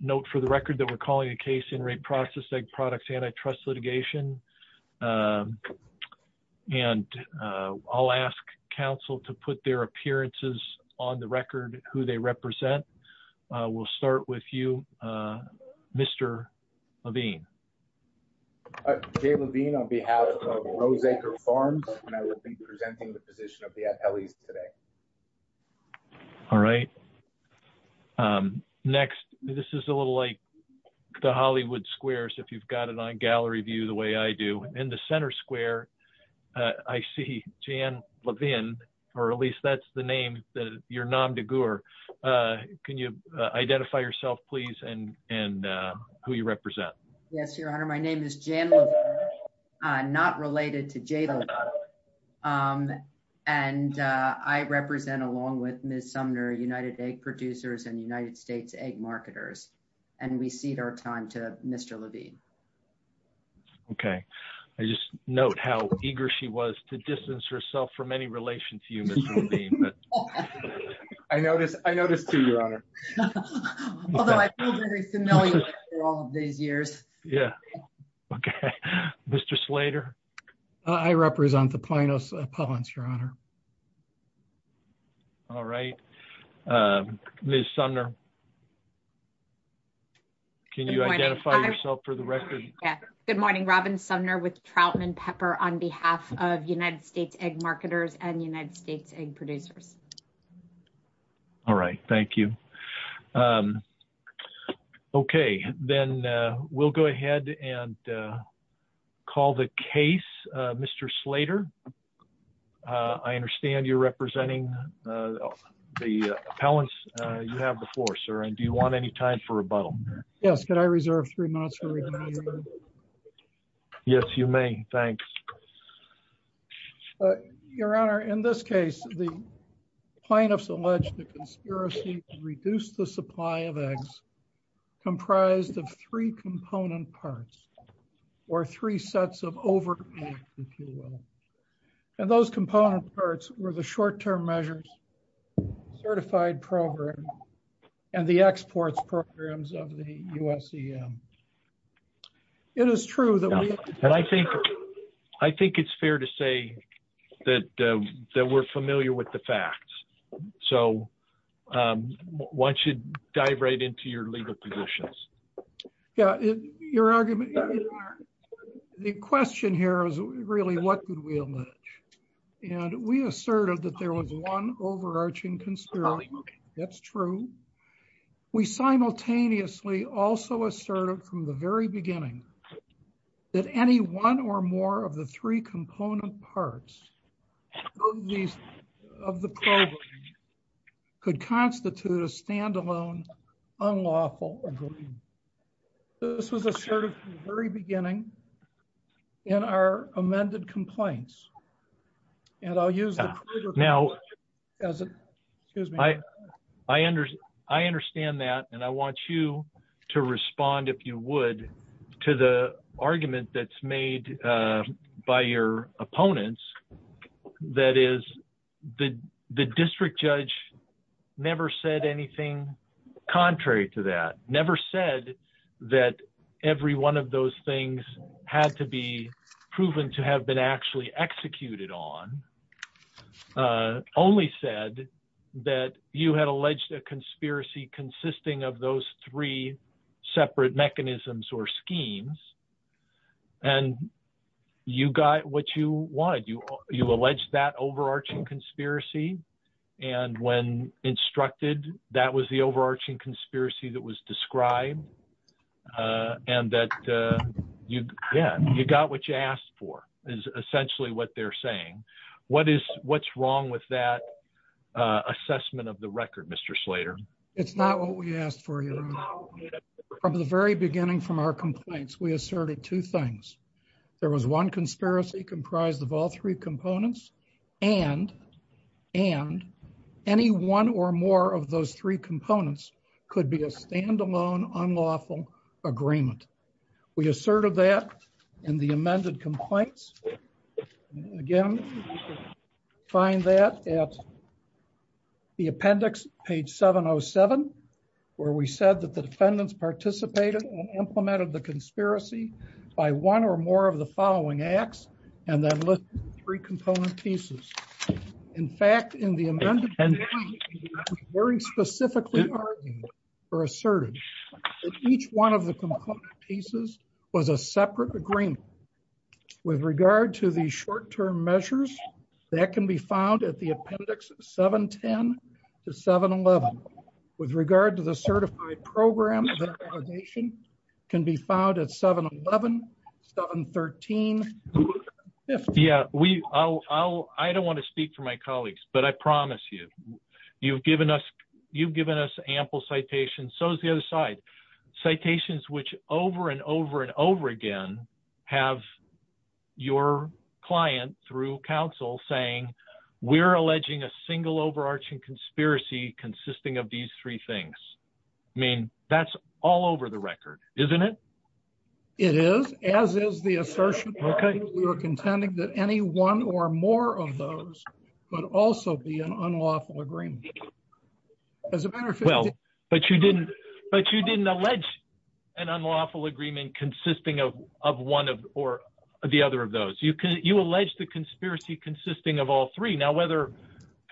Note for the record that we're calling a case in Re Processed Egg Products antitrust litigation. And I'll ask council to put their appearances on the record who they represent. We'll start with you Mr. Levine. Jay Levine on behalf of Roseacre Farms and I will be presenting the position of like the Hollywood Squares if you've got it on gallery view the way I do. In the center square I see Jan Levine or at least that's the name that you're nom de gore. Can you identify yourself please and who you represent? Yes your honor my name is Jan Levine not related to Jay Levine and I represent along with Ms. Sumner United Egg Producers and United States Egg Marketers. And we cede our time to Mr. Levine. Okay I just note how eager she was to distance herself from any relation to you Mr. Levine. I notice I notice too your honor. Although I feel very familiar for all of these years. Yeah okay Mr. Slater. I represent the Plano's Appellants your honor. All right Ms. Sumner. Can you identify yourself for the record? Yeah good morning Robin Sumner with Troutman Pepper on behalf of United States Egg Marketers and United States Egg Producers. All right thank you. Okay then we'll go ahead and call the case Mr. Slater. I understand you're representing the appellants you have before sir and do you want any time for rebuttal? Yes could I reserve three minutes for rebuttal? Yes you may thanks. Your honor in this case the plaintiffs allege the conspiracy to reduce the supply of eggs comprised of three and those component parts were the short-term measures certified program and the exports programs of the USEM. It is true that we and I think I think it's fair to say that that we're familiar with the facts. So why don't you dive right into your legal positions. Yeah your argument the question here is really what could be alleged and we asserted that there was one overarching conspiracy. That's true. We simultaneously also asserted from the very beginning that any one or more of the three component parts of these of the program could constitute a standalone unlawful agreement. This was asserted from the very beginning in our amended complaints and I'll use now as excuse me. I understand that and I want you to respond if you would to the argument that's made by your opponents that is the district judge never said anything contrary to that. Never said that every one of those things had to be proven to have been actually executed on. Only said that you had alleged a conspiracy consisting of those three separate mechanisms or schemes and you got what you wanted. You alleged that overarching conspiracy and when instructed that was the overarching conspiracy that was described and that you yeah you got what you asked for is essentially what they're saying. What is what's wrong with that assessment of the record Mr. Slater? It's not what we asked for. From the very beginning from our complaints we asserted two things. There was one conspiracy comprised of all three components and and any one or more of those three components could be a standalone unlawful agreement. We asserted that in the amended complaints again you can find that at the appendix page 707 where we said that the defendants participated and implemented the conspiracy by one or more of the following acts and then listed three component pieces. In fact in the amended very specifically argued or asserted that each one of the component pieces was a separate agreement with regard to these short-term measures that can be found at 711. With regard to the certified program that validation can be found at 711, 713. Yeah we I'll I don't want to speak for my colleagues but I promise you you've given us you've given us ample citations so is the other side citations which over and over and over again have your client through counsel saying we're alleging a single overarching conspiracy consisting of these three things. I mean that's all over the record isn't it? It is as is the assertion okay we were contending that any one or more of those would also be an unlawful agreement as a matter of well but you didn't but you didn't allege an unlawful agreement consisting of of one of or the other of those. You can you allege the conspiracy consisting of all three now whether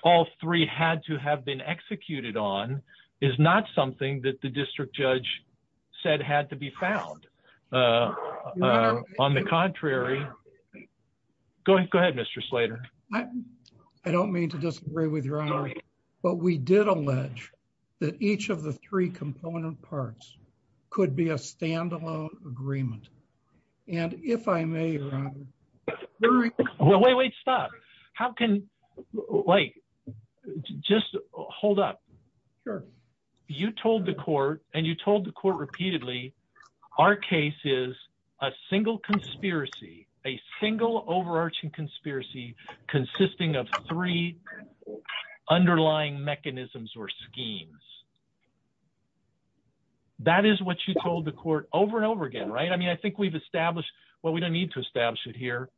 all three had to have been executed on is not something that the district judge said had to be found. On the contrary go ahead go ahead Mr. Slater. I don't mean to disagree with your honor but we did allege that each of the three component parts could be a standalone agreement and if I may. Wait wait stop how can like just hold up. Sure. You told the court and you told the court repeatedly our case is a single conspiracy a single overarching conspiracy consisting of three underlying mechanisms or schemes. That is what you told the court over and over again right? I mean I think we've established what we don't need to establish it here.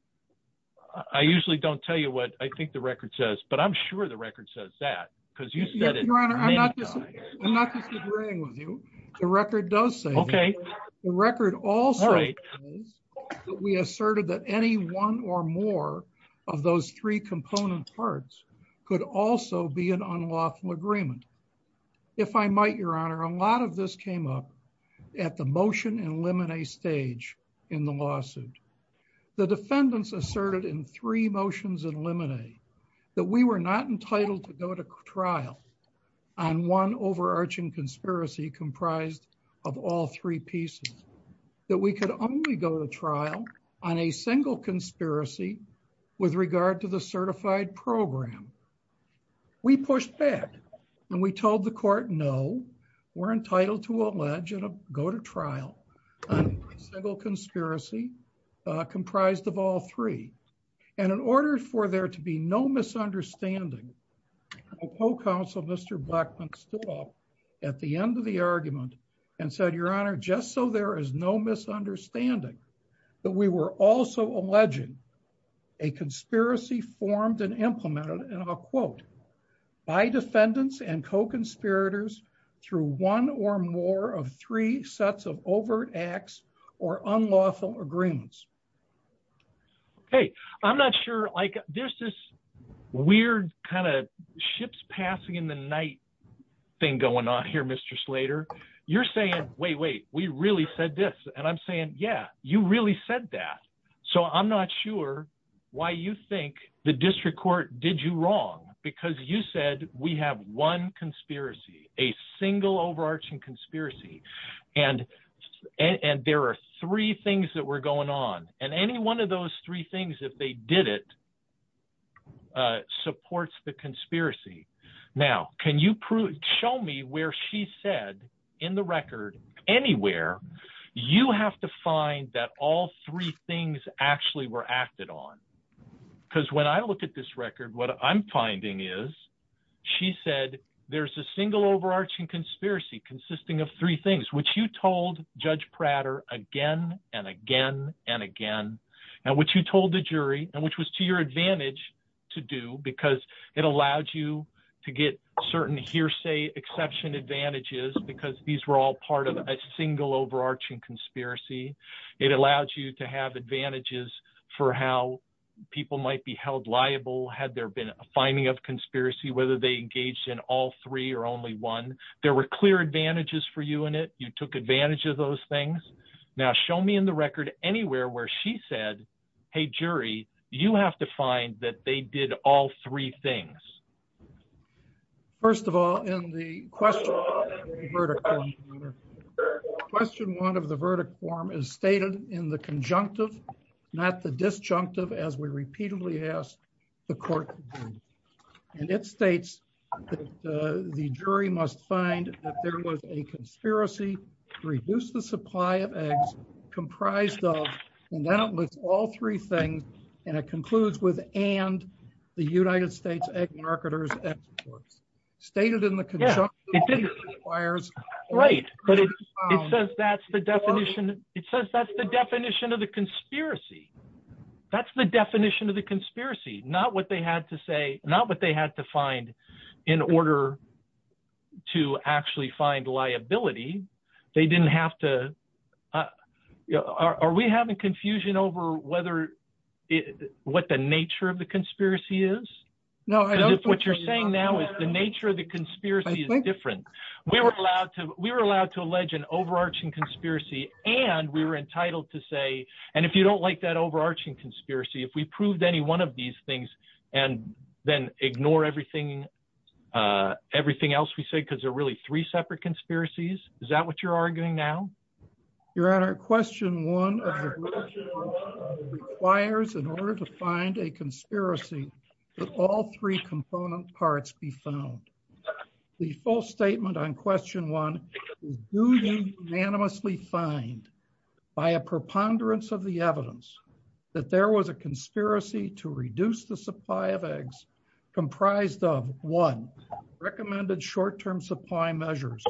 I usually don't tell you what I think the record says but I'm sure the record says that because you said it. Your honor I'm not just I'm not just agreeing with you. The record does say okay the record also is that we asserted that any one or more of those three component parts could also be an unlawful agreement. If I might your honor a lot of this came up at the motion and limine stage in the lawsuit. The defendants asserted in three comprised of all three pieces that we could only go to trial on a single conspiracy with regard to the certified program. We pushed back and we told the court no we're entitled to allege and go to trial on a single conspiracy comprised of all three and in order for there to be no misunderstanding co-counsel Mr. Blackmon stood up at the end of the argument and said your honor just so there is no misunderstanding that we were also alleging a conspiracy formed and implemented and I'll quote by defendants and co-conspirators through one or more of three sets of overt acts or unlawful agreements. Okay I'm not sure like there's this weird kind of ships passing in the night thing going on here Mr. Slater. You're saying wait wait we really said this and I'm saying yeah you really said that. So I'm not sure why you think the district court did you wrong because you said we have one conspiracy a single overarching conspiracy and and there are three things that were going on and any one of those three things if they did it supports the conspiracy. Now can you prove show me where she said in the record anywhere you have to find that all three things actually were acted on because when I look at this record what I'm finding is she said there's a single overarching conspiracy consisting of three things which you told Judge Prater again and again and again and which you told the jury and which was to your advantage to do because it allowed you to get certain hearsay exception advantages because these were all part of a single overarching conspiracy. It allowed you to have advantages for how people might be held liable had there been a finding of conspiracy whether they engaged in all three or only one there were clear advantages for you in it you took advantage of those things now show me in the record anywhere where she said hey jury you have to find that they did all three things. First of all in the question one of the verdict form is stated in the conjunctive not the disjunctive as we repeatedly asked the court and it states that the jury must find that there was a conspiracy to reduce the supply of eggs comprised of and then it lists all three things and it concludes with and the United States egg marketers and supports stated in the that's the definition of the conspiracy not what they had to say not what they had to find in order to actually find liability they didn't have to are we having confusion over whether what the nature of the conspiracy is no what you're saying now is the nature of the conspiracy is different we were allowed to we were allowed to allege an overarching conspiracy and we were like that overarching conspiracy if we proved any one of these things and then ignore everything everything else we said because they're really three separate conspiracies is that what you're arguing now your honor question one requires in order to find a conspiracy all three component parts be found the full statement on question one do you unanimously find by a preponderance of the evidence that there was a conspiracy to reduce the supply of eggs comprised of one recommended short-term supply measures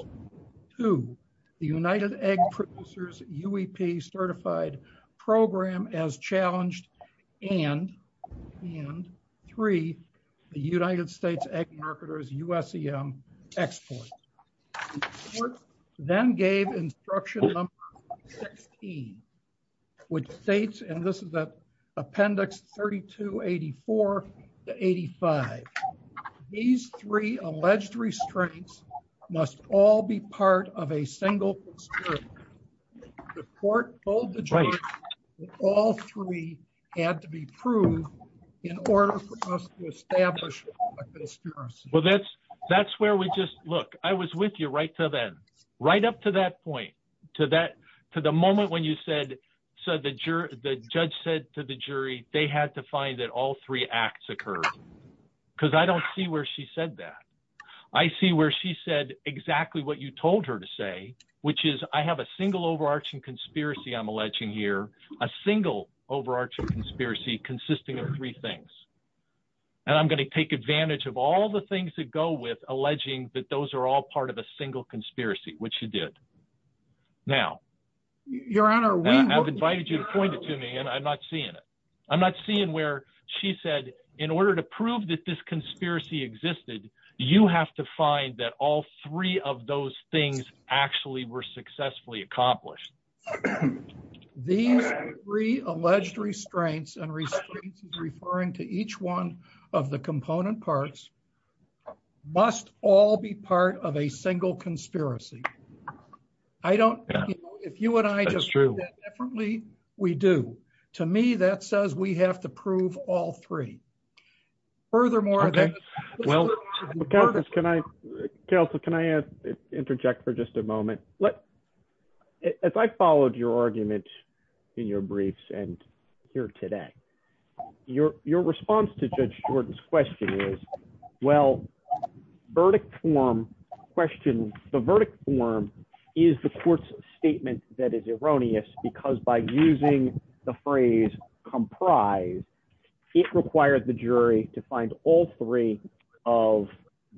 two the united egg producers uep certified program as challenged and and three the united states egg marketers usem exports then gave instruction number 16 which states and this is the appendix 32 84 to 85 these three alleged restraints must all be part of a single conspiracy the court told the judge all three had to be proved in order for us to establish well that's that's where we just look i was with you right till then right up to that point to that to the moment when you said so the juror the judge said to the jury they had to find that all three acts occurred because i don't see where she said that i see where she said exactly what you told her to say which is i have a single overarching conspiracy i'm alleging here a single overarching conspiracy consisting of three things and i'm going to take advantage of all the things that go with alleging that those are all part of a single conspiracy which you did now your honor i've invited you to point it to me and i'm not seeing it i'm not seeing where she said in order to prove that this conspiracy existed you have to find that all three of those things actually were successfully accomplished these three alleged restraints and restraints referring to each one of the component parts must all be part of a single conspiracy i don't know if you and i just true definitely we do to me that says we have to prove all three furthermore okay well can i counsel can i ask interject for just a moment let if i followed your argument in your briefs and here today your your response to judge shorten's question is well verdict form question the verdict form is the court's phrase comprise it required the jury to find all three of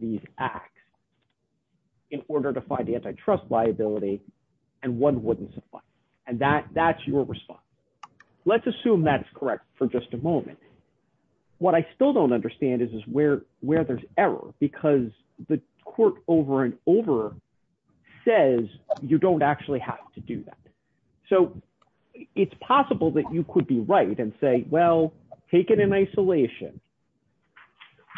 these acts in order to find the antitrust liability and one wouldn't supply and that that's your response let's assume that's correct for just a moment what i still don't understand is is where where there's error because the court over and over says you don't actually have to do that so it's possible that you could be right and say well taken in isolation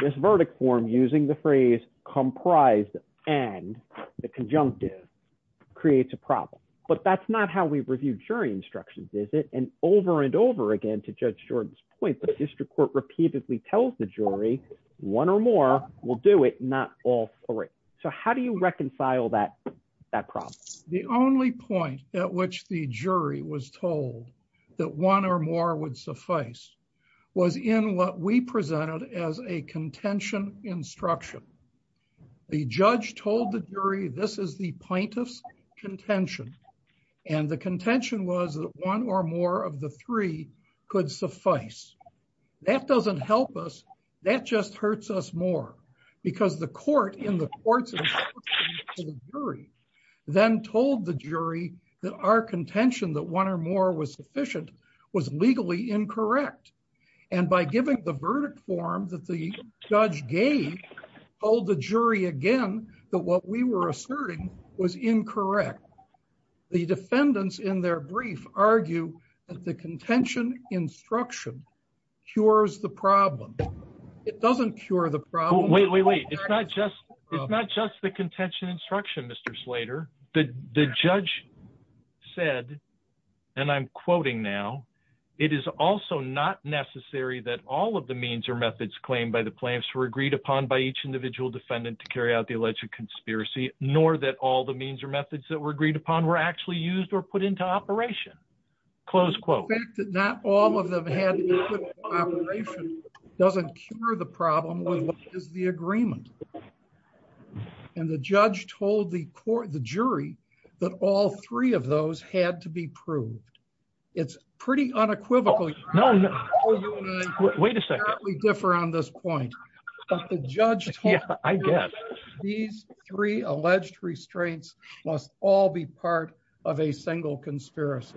this verdict form using the phrase comprised and the conjunctive creates a problem but that's not how we review jury instructions is it and over and over again to judge jordan's point the district court repeatedly tells the jury one or more will do it not all three so how do you reconcile that that problem the only point at which the jury was told that one or more would suffice was in what we presented as a contention instruction the judge told the jury this is the plaintiff's contention and the contention was that one or more of the three could suffice that doesn't help us that just hurts us more because the court in the courts then told the jury that our contention that one or more was sufficient was legally incorrect and by giving the verdict form that the judge gave told the jury again that what we were asserting was incorrect the defendants in their brief argue that the contention instruction cures the problem it doesn't cure the problem wait wait wait it's not just it's not just the contention instruction mr slater the the judge said and i'm quoting now it is also not necessary that all of the means or methods claimed by the plaintiffs were agreed upon by each individual defendant to carry out the alleged conspiracy nor that all the means or methods that were agreed upon were actually used or put into operation close quote the fact that not all of them had operation doesn't cure the problem with what is the agreement and the judge told the court the jury that all three of those had to be proved it's pretty unequivocally no no wait a second we differ on this point but the judge yeah i guess these three alleged restraints must all be part of a single conspiracy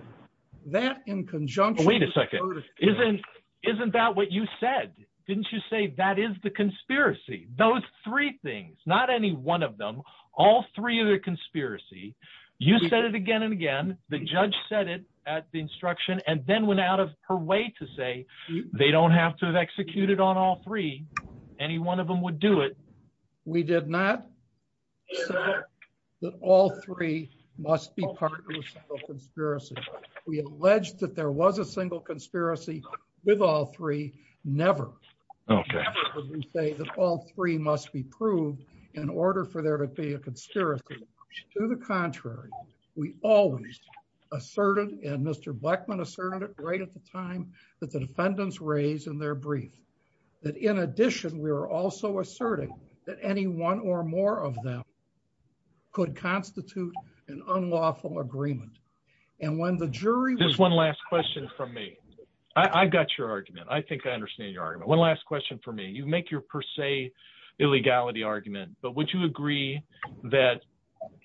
that in conjunction wait a second isn't isn't that what you said didn't you say that is the conspiracy those three things not any one of them all three of the conspiracy you said it again and again the judge said it at the instruction and then went out of her way to say they don't have to have executed on all three any one of them would do it we did not say that all three must be part of a conspiracy we alleged that there was a single conspiracy with all three never okay would you say that all three must be proved in order for there to be a conspiracy to the contrary we always asserted and mr blackmon asserted right at the time that the defendants raised in their brief that in addition we are also asserting that any one or more of them could constitute an unlawful agreement and when the jury there's one last question from me i i got your argument i make your per se illegality argument but would you agree that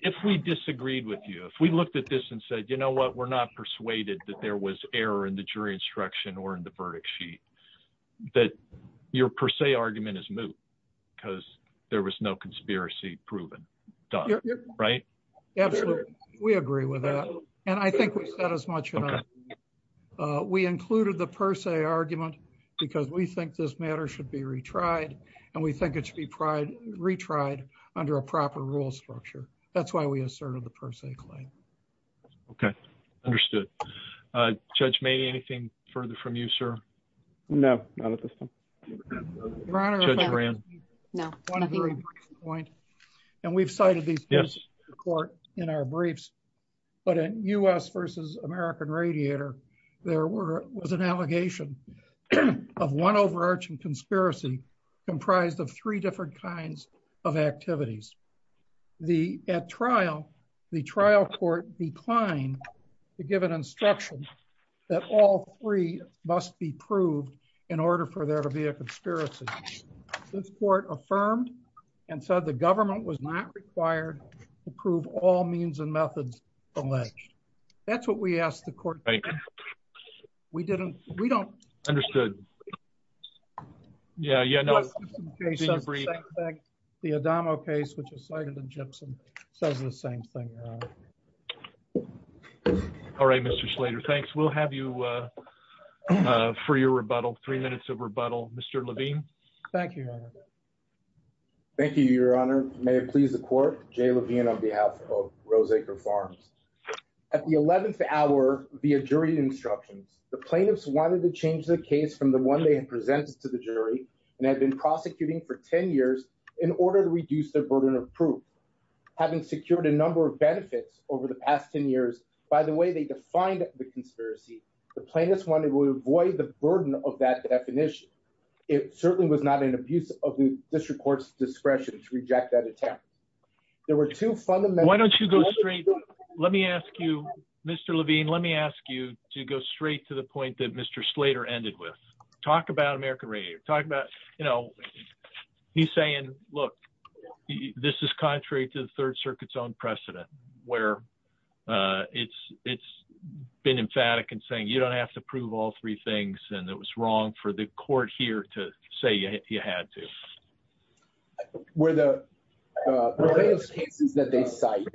if we disagreed with you if we looked at this and said you know what we're not persuaded that there was error in the jury instruction or in the verdict sheet that your per se argument is moot because there was no conspiracy proven done right absolutely we agree with that and i think we've said as much as we included the argument because we think this matter should be retried and we think it should be pride retried under a proper rule structure that's why we asserted the per se claim okay understood uh judge made anything further from you sir no not at this time and we've cited these yes court in our briefs but in u.s versus american radiator there were was an allegation of one overarching conspiracy comprised of three different kinds of activities the at trial the trial court declined to give an instruction that all three must be proved in order for there to be a conspiracy this court affirmed and said the government was not required to prove all means and methods from that that's what we asked the court thank you we didn't we don't understood yeah yeah the adamo case which is cited in gypsum says the same thing all right mr slater thanks we'll have you uh for your rebuttal three minutes of rebuttal mr levine thank you thank you your honor may it jay levine on behalf of roseacre farms at the 11th hour via jury instructions the plaintiffs wanted to change the case from the one they had presented to the jury and had been prosecuting for 10 years in order to reduce their burden of proof having secured a number of benefits over the past 10 years by the way they defined the conspiracy the plaintiffs wanted to avoid the burden of that definition it certainly was not an abuse of the district court's discretion to reject that attempt there were two fundamental why don't you go straight let me ask you mr levine let me ask you to go straight to the point that mr slater ended with talk about american radio talk about you know he's saying look this is contrary to the third circuit's own precedent where uh it's it's been emphatic and saying you don't have to prove all it was wrong for the court here to say you had to where the cases that they cite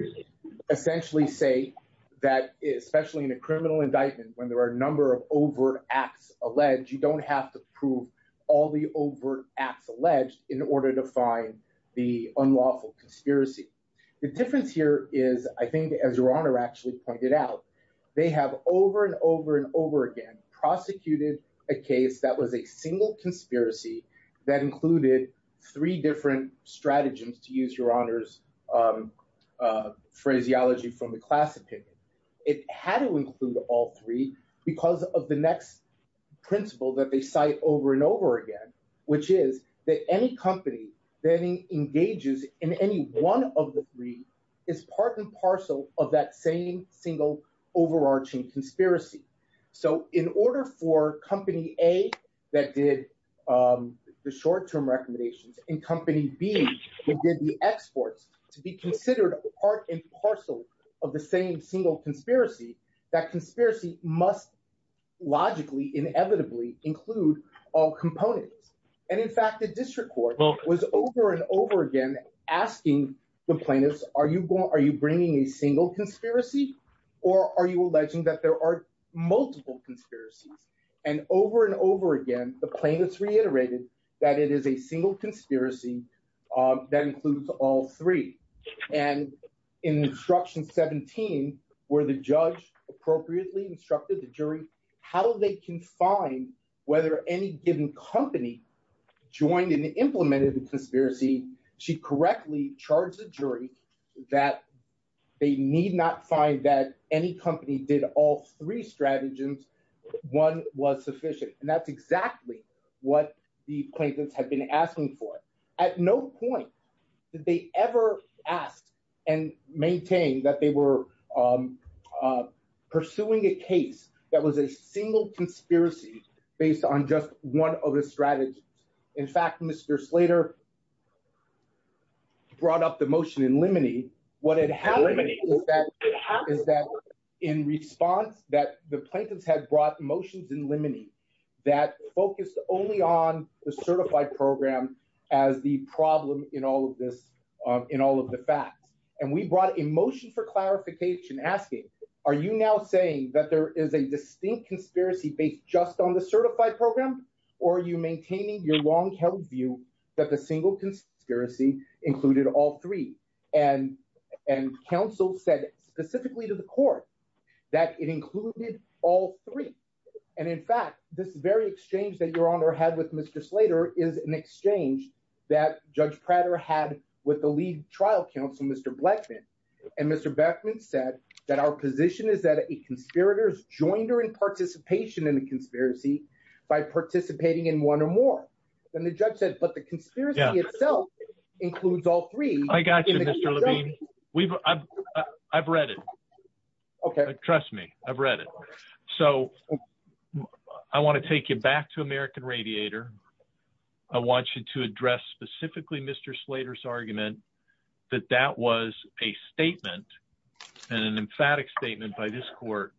essentially say that especially in a criminal indictment when there are a number of overt acts alleged you don't have to prove all the overt acts alleged in order to find the unlawful conspiracy the difference here is i think as your honor actually pointed out they have over and over and over again prosecuted a case that was a single conspiracy that included three different stratagems to use your honor's phraseology from the class opinion it had to include all three because of the next principle that they cite over and over again which is that any company that engages in any one of the three is part and parcel of that same single overarching conspiracy so in order for company a that did um the short-term recommendations in company b within the exports to be considered part and parcel of the same single conspiracy that conspiracy must logically inevitably include all components and in fact the district court was over and over again asking the plaintiffs are you going are you bringing a single conspiracy or are you alleging that there are multiple conspiracies and over and over again the plaintiffs reiterated that it is a single conspiracy that includes all three and in instruction 17 where the judge appropriately instructed the jury how they can find whether any given company joined and implemented the conspiracy she correctly charged the jury that they need not find that any company did all three stratagems one was sufficient and that's exactly what the plaintiffs have been asking for at no point did they ever ask and maintain that they were um uh pursuing a case that was a single conspiracy based on just one of the strategies in fact mr slater brought up the motion in limine what had happened is that is that in response that the plaintiffs had brought motions in limine that focused only on the certified program as the problem in all of this um in all of the facts and we brought a motion for clarification asking are you now saying that there is a distinct conspiracy based just on the certified program or are you maintaining your long-held view that the single conspiracy included all three and and counsel said specifically to the court that it included all three and in fact this very exchange that your honor had with mr slater is an exchange that judge pratter had with the lead trial counsel mr blackman and mr beckman said that our position is that a conspirator has joined her in participation in the conspiracy by participating in one or more then the judge said but the conspiracy itself includes all three i got you mr levine we've i've i've read it okay trust me i've read it so i want to take you back to american radiator i want you to address specifically mr slater's and an emphatic statement by this court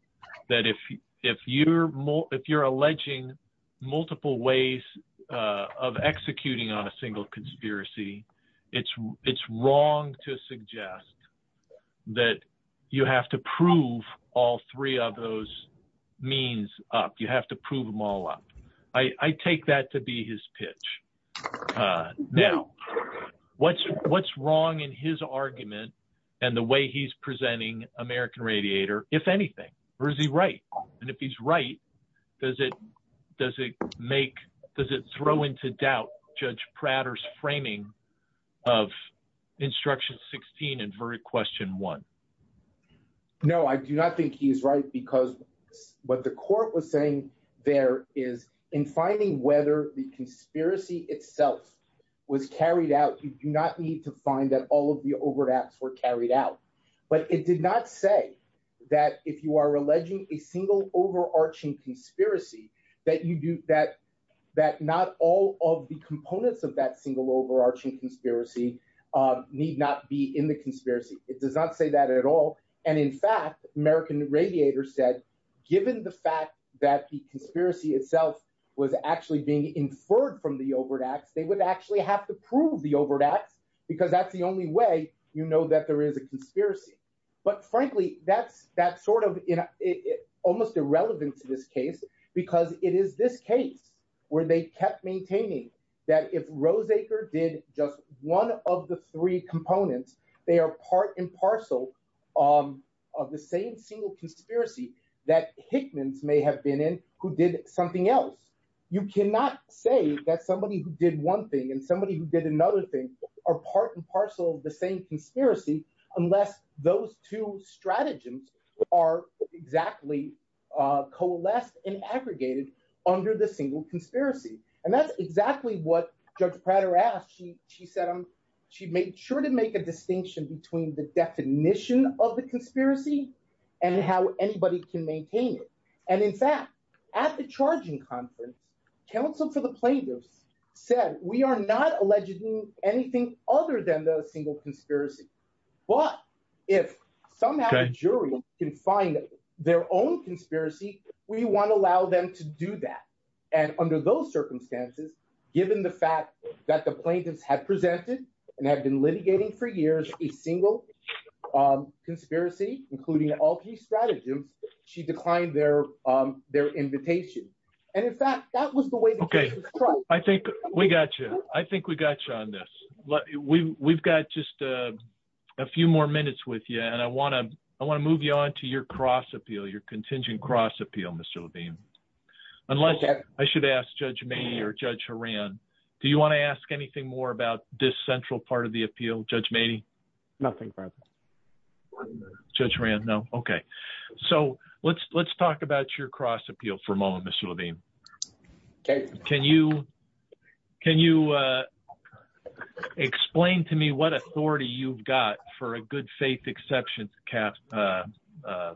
that if if you're more if you're alleging multiple ways of executing on a single conspiracy it's it's wrong to suggest that you have to prove all three of those means up you have to prove them all up i i take that to be his pitch uh now what's what's wrong in his argument and the way he's presenting american radiator if anything or is he right and if he's right does it does it make does it throw into doubt judge pratter's framing of instruction 16 and very question one no i do not think he's right because what the court was saying there is in finding whether the conspiracy itself was carried out you do not need to find that all of the overlaps were carried out but it did not say that if you are alleging a single overarching conspiracy that you do that that not all of the components of that single overarching conspiracy uh need not be in the conspiracy it does not say that at all and in fact american radiator said given the fact that the conspiracy itself was actually being inferred from the overt acts they would actually have to prove the overt acts because that's the only way you know that there is a conspiracy but frankly that's that sort of in almost irrelevant to this case because it is this case where they kept maintaining that if roseacre did just one of the three components they are part and parcel um of the same single conspiracy that hickman's may have been in who did something else you cannot say that somebody who did one thing and somebody who did another thing are part and parcel of the same conspiracy unless those two stratagems are exactly uh coalesced and aggregated under the single conspiracy and that's exactly what judge she said she made sure to make a distinction between the definition of the conspiracy and how anybody can maintain it and in fact at the charging conference council for the plaintiffs said we are not alleging anything other than the single conspiracy but if somehow the jury can find their own conspiracy we want to allow them to do that and under those circumstances given the fact that the plaintiffs had presented and have been litigating for years a single um conspiracy including all key stratagems she declined their um their invitation and in fact that was the way okay i think we got you i think we got you on this let we we've got just uh a few more minutes with you and i want to i want to move you on to your cross appeal your ask judge may or judge haran do you want to ask anything more about this central part of the appeal judge mating nothing judge ran no okay so let's let's talk about your cross appeal for a moment mr labine okay can you can you uh explain to me what authority you've got for a good faith exception cap uh uh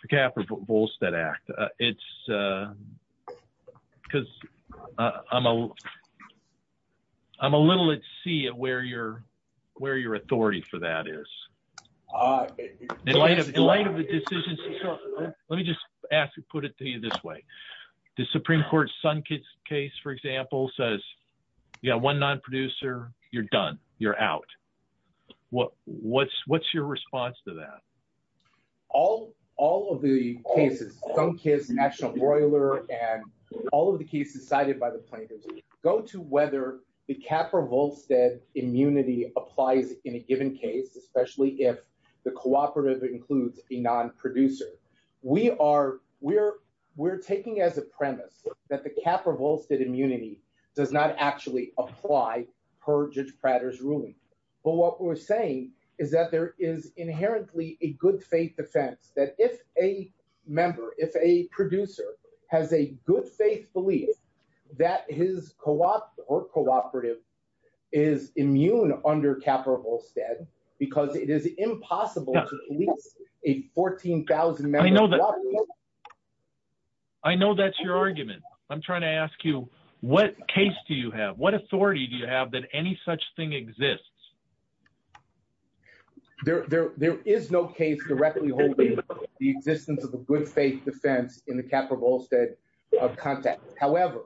for cap or volstead act uh it's uh because i'm a i'm a little at sea at where you're where your authority for that is uh in light of the light of the decisions let me just ask you put it to you this way the supreme court's son case for example says you got one non-producer you're done you're out what what's what's your response to that all all of the cases thumb kiss national broiler and all of the cases cited by the plaintiffs go to whether the cap or volstead immunity applies in a given case especially if the cooperative includes a non-producer we are we're we're taking as a premise that the cap revolves that immunity does not actually apply per judge pratter's ruling but what we're saying is that there is inherently a good faith defense that if a member if a producer has a good faith belief that his co-op or cooperative is immune under cap or volstead because it is impossible to police a 14 000 i know that i know that's your argument i'm trying to ask you what case do you have what authority do you have that any such thing exists there there there is no case directly holding the existence of the good faith defense in the cap or volstead of context however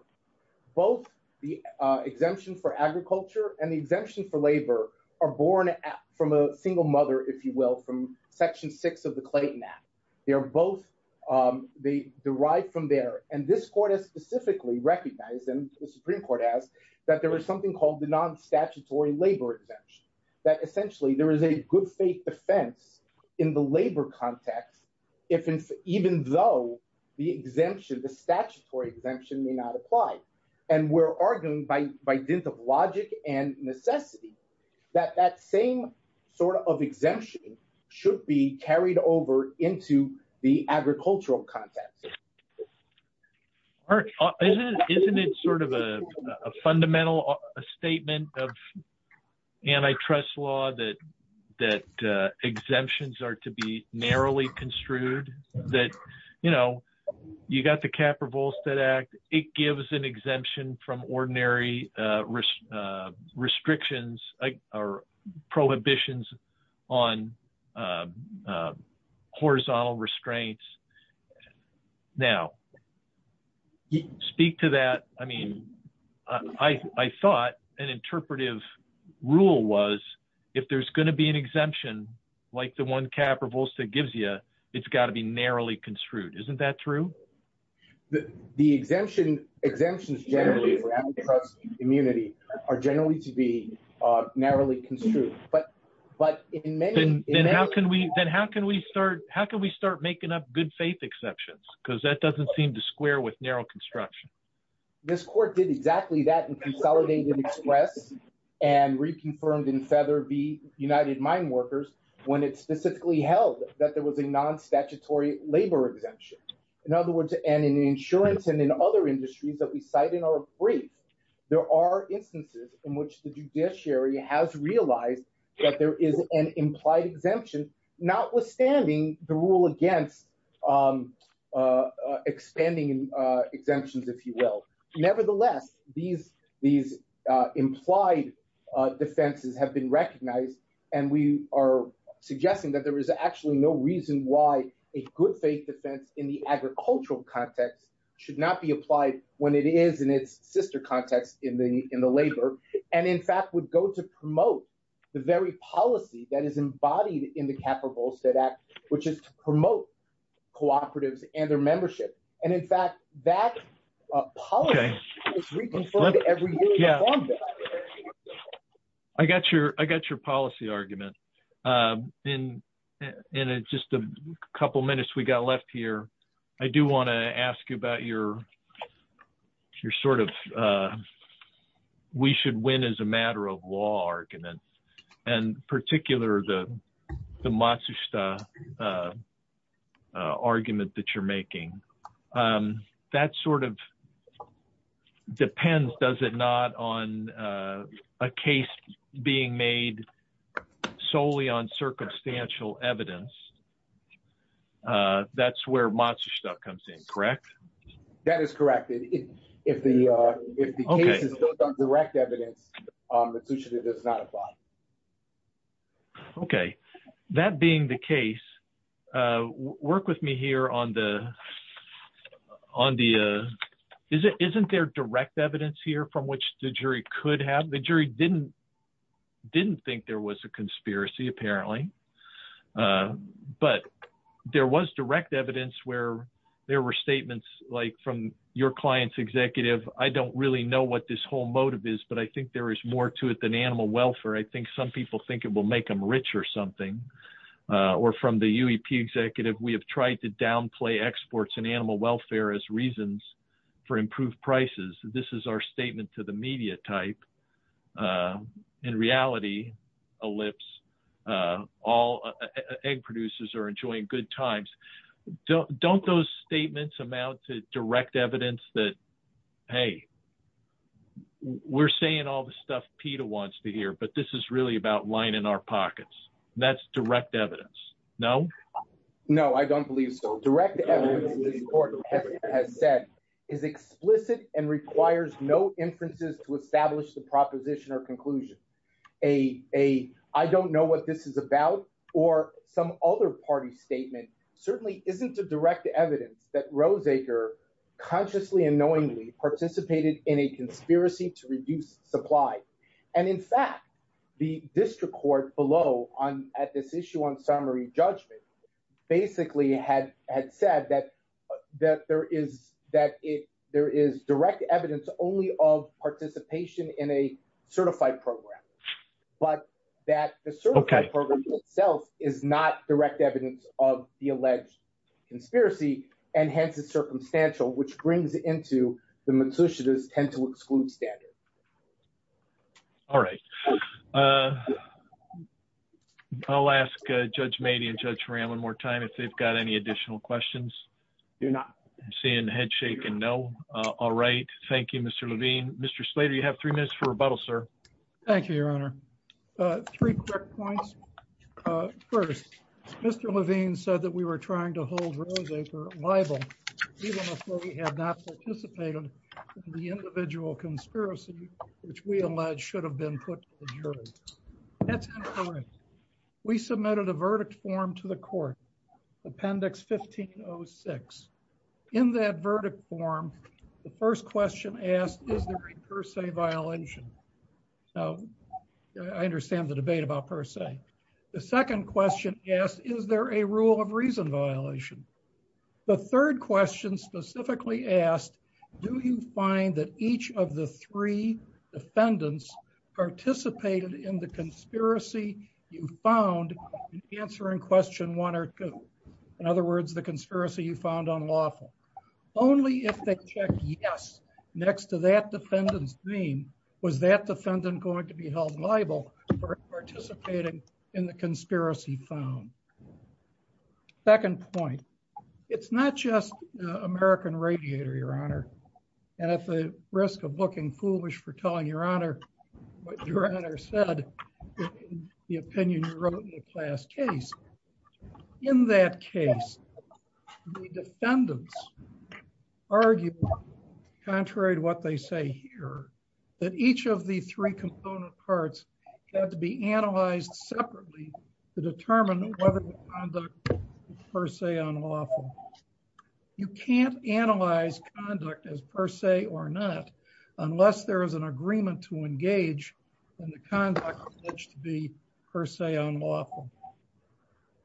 both the uh exemption for agriculture and the exemption for labor are born from a single mother if you will from section six of the clayton act they are both um they derive from there and this court has specifically recognized and the supreme court asked that there was something called the non-statutory labor exemption that essentially there is a good faith defense in the labor context if even though the exemption the statutory exemption may not apply and we're arguing by by dint of logic and necessity that that same sort of exemption should be carried over into the agricultural context isn't it sort of a fundamental a statement of antitrust law that that uh exemptions are to be it gives an exemption from ordinary uh restrictions or prohibitions on horizontal restraints now speak to that i mean i i thought an interpretive rule was if there's going to be an exemption like the one cap or volstead gives you it's got to be narrowly construed isn't that true the the exemption exemptions generally immunity are generally to be uh narrowly construed but but in many then how can we then how can we start how can we start making up good faith exceptions because that doesn't seem to square with narrow construction this court did exactly that and consolidated express and reconfirmed in the united mine workers when it specifically held that there was a non-statutory labor exemption in other words and in insurance and in other industries that we cite in our brief there are instances in which the judiciary has realized that there is an implied exemption notwithstanding the rule against um uh expanding uh exemptions if you will nevertheless these these implied uh defenses have been recognized and we are suggesting that there is actually no reason why a good faith defense in the agricultural context should not be applied when it is in its sister context in the in the labor and in fact would go to promote the very policy that is embodied in the cap or volstead act which is to promote cooperatives and their membership and in the I got your I got your policy argument um in in just a couple minutes we got left here I do want to ask you about your your sort of uh we should win as a matter of law argument and particular the the Matsushita uh argument that you're making um that sort of depends does it not on uh a case being made solely on circumstantial evidence uh that's where Matsushita comes in correct that is correct if if the uh if the case is built on direct evidence um it does not apply okay that being the case uh work with me here on the on the uh is it isn't there direct evidence here from which the jury could have the jury didn't didn't think there was a conspiracy apparently uh but there was direct evidence where there were statements like from your client's executive I don't really know what this whole motive is but I think there is more to it than animal welfare I think some people think it will make them rich or something uh or from the UEP executive we have tried to downplay exports and animal welfare as reasons for improved prices this is our statement to the media type uh in reality ellipse uh all egg producers are enjoying good times don't those statements amount to direct evidence that hey we're saying all the stuff PETA wants to hear but this is really about in our pockets that's direct evidence no no I don't believe so direct evidence this court has said is explicit and requires no inferences to establish the proposition or conclusion a a I don't know what this is about or some other party statement certainly isn't a direct evidence that roseacre consciously and knowingly participated in a conspiracy to reduce supply and in fact the district court below on at this issue on summary judgment basically had had said that that there is that it there is direct evidence only of participation in a certified program but that the certified program itself is not direct evidence of the alleged conspiracy and hence it's circumstantial which brings into the matricious tend to exclude standard all right uh I'll ask Judge Mady and Judge Ram one more time if they've got any additional questions you're not seeing head shaking no uh all right thank you Mr. Levine Mr. Slater you have three minutes for rebuttal sir thank you your honor uh three quick points first Mr. Levine said that we were trying to hold roseacre liable even before we had not participated in the individual conspiracy which we allege should have been put to the jury that's incorrect we submitted a verdict form to the court appendix 1506 in that verdict form the first question asked is there a per se violation so I understand the debate about per se the second question asked is there a rule of reason violation the third question specifically asked do you find that each of the three defendants participated in the conspiracy you found an answer in question one or two in other words the conspiracy you found unlawful only if they check yes next to that defendant's name was that defendant going to be held liable for participating in the conspiracy found second point it's not just American radiator your honor and at the risk of looking foolish for telling your honor what your honor said the opinion you wrote in the class case in that case the defendants argued contrary to what they say here that each of the three component parts had to be analyzed separately to determine whether per se unlawful you can't analyze conduct as per se or not unless there is an agreement to engage in the conduct alleged to be per se unlawful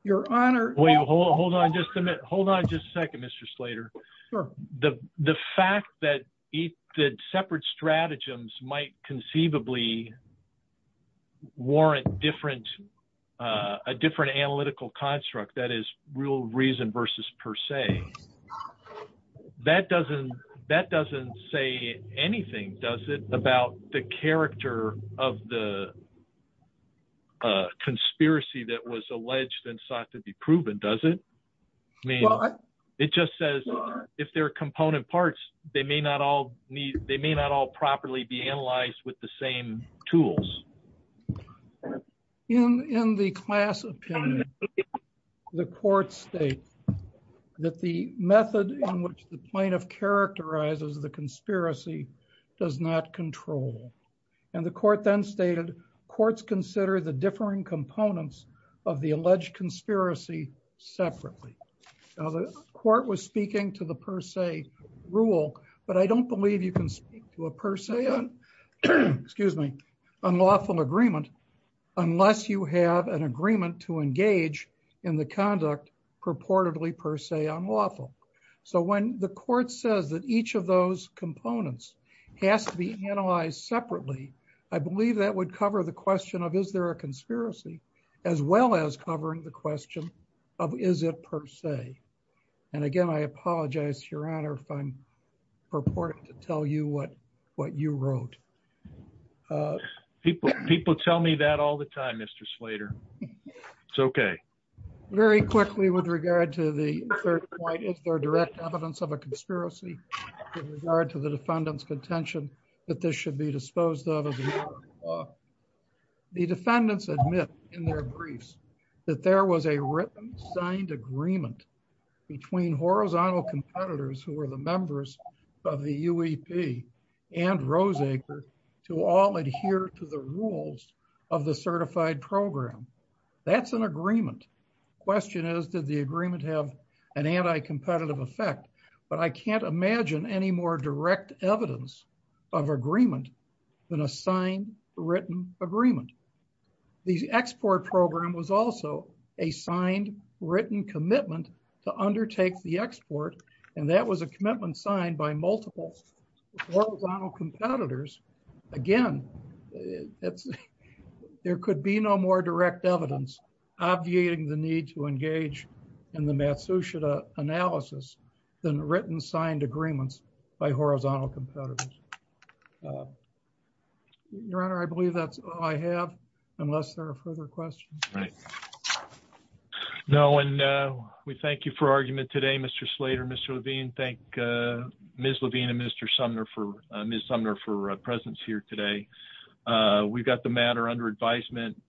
your honor wait hold on just a minute hold on just a second mr slater sure the the fact that each the separate stratagems might conceivably warrant different uh a different analytical construct that is real reason versus per se that doesn't that doesn't say anything does it about the character of the conspiracy that was alleged and sought to be proven does it i mean it just says if they're component parts they may not all need they may not all properly be analyzed with the same tools in in the class opinion the court states that the method in which the plaintiff characterizes the conspiracy does not control and the court then stated courts consider the differing components of the alleged conspiracy separately now the court was speaking to the per se rule but i don't believe you can speak to a person excuse me unlawful agreement unless you have an agreement to engage in the conduct purportedly per se unlawful so when the court says that each of those components has to be analyzed separately i believe that would cover the question of is there a conspiracy as well as covering the question of is it per se and again i apologize your honor if i'm purporting to tell you what what you wrote uh people people tell me that all the time mr slater it's okay very quickly with regard to the third point is there direct evidence of a conspiracy in regard to the defendant's contention that this should be disposed of the defendants admit in their briefs that there was a written signed agreement between horizontal competitors who were the members of the uep and roseacre to all adhere to the rules of the certified program that's an agreement question is did the agreement have an anti-competitive effect but i can't imagine any more direct evidence of agreement than a sign written agreement the export program was also a signed written commitment to undertake the export and that was a commitment signed by multiple horizontal competitors again it's there could be no more direct evidence obviating the need to engage in the matsushita analysis than written signed agreements by horizontal competitors your honor i believe that's all i have unless there are further questions right no and uh we thank you for argument today mr slater mr levine thank uh ms levine and mr sumner for uh ms sumner for uh presence here today uh we've got the matter under advisement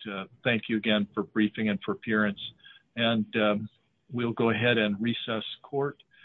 thank you again for briefing and for appearance and we'll go ahead and recess court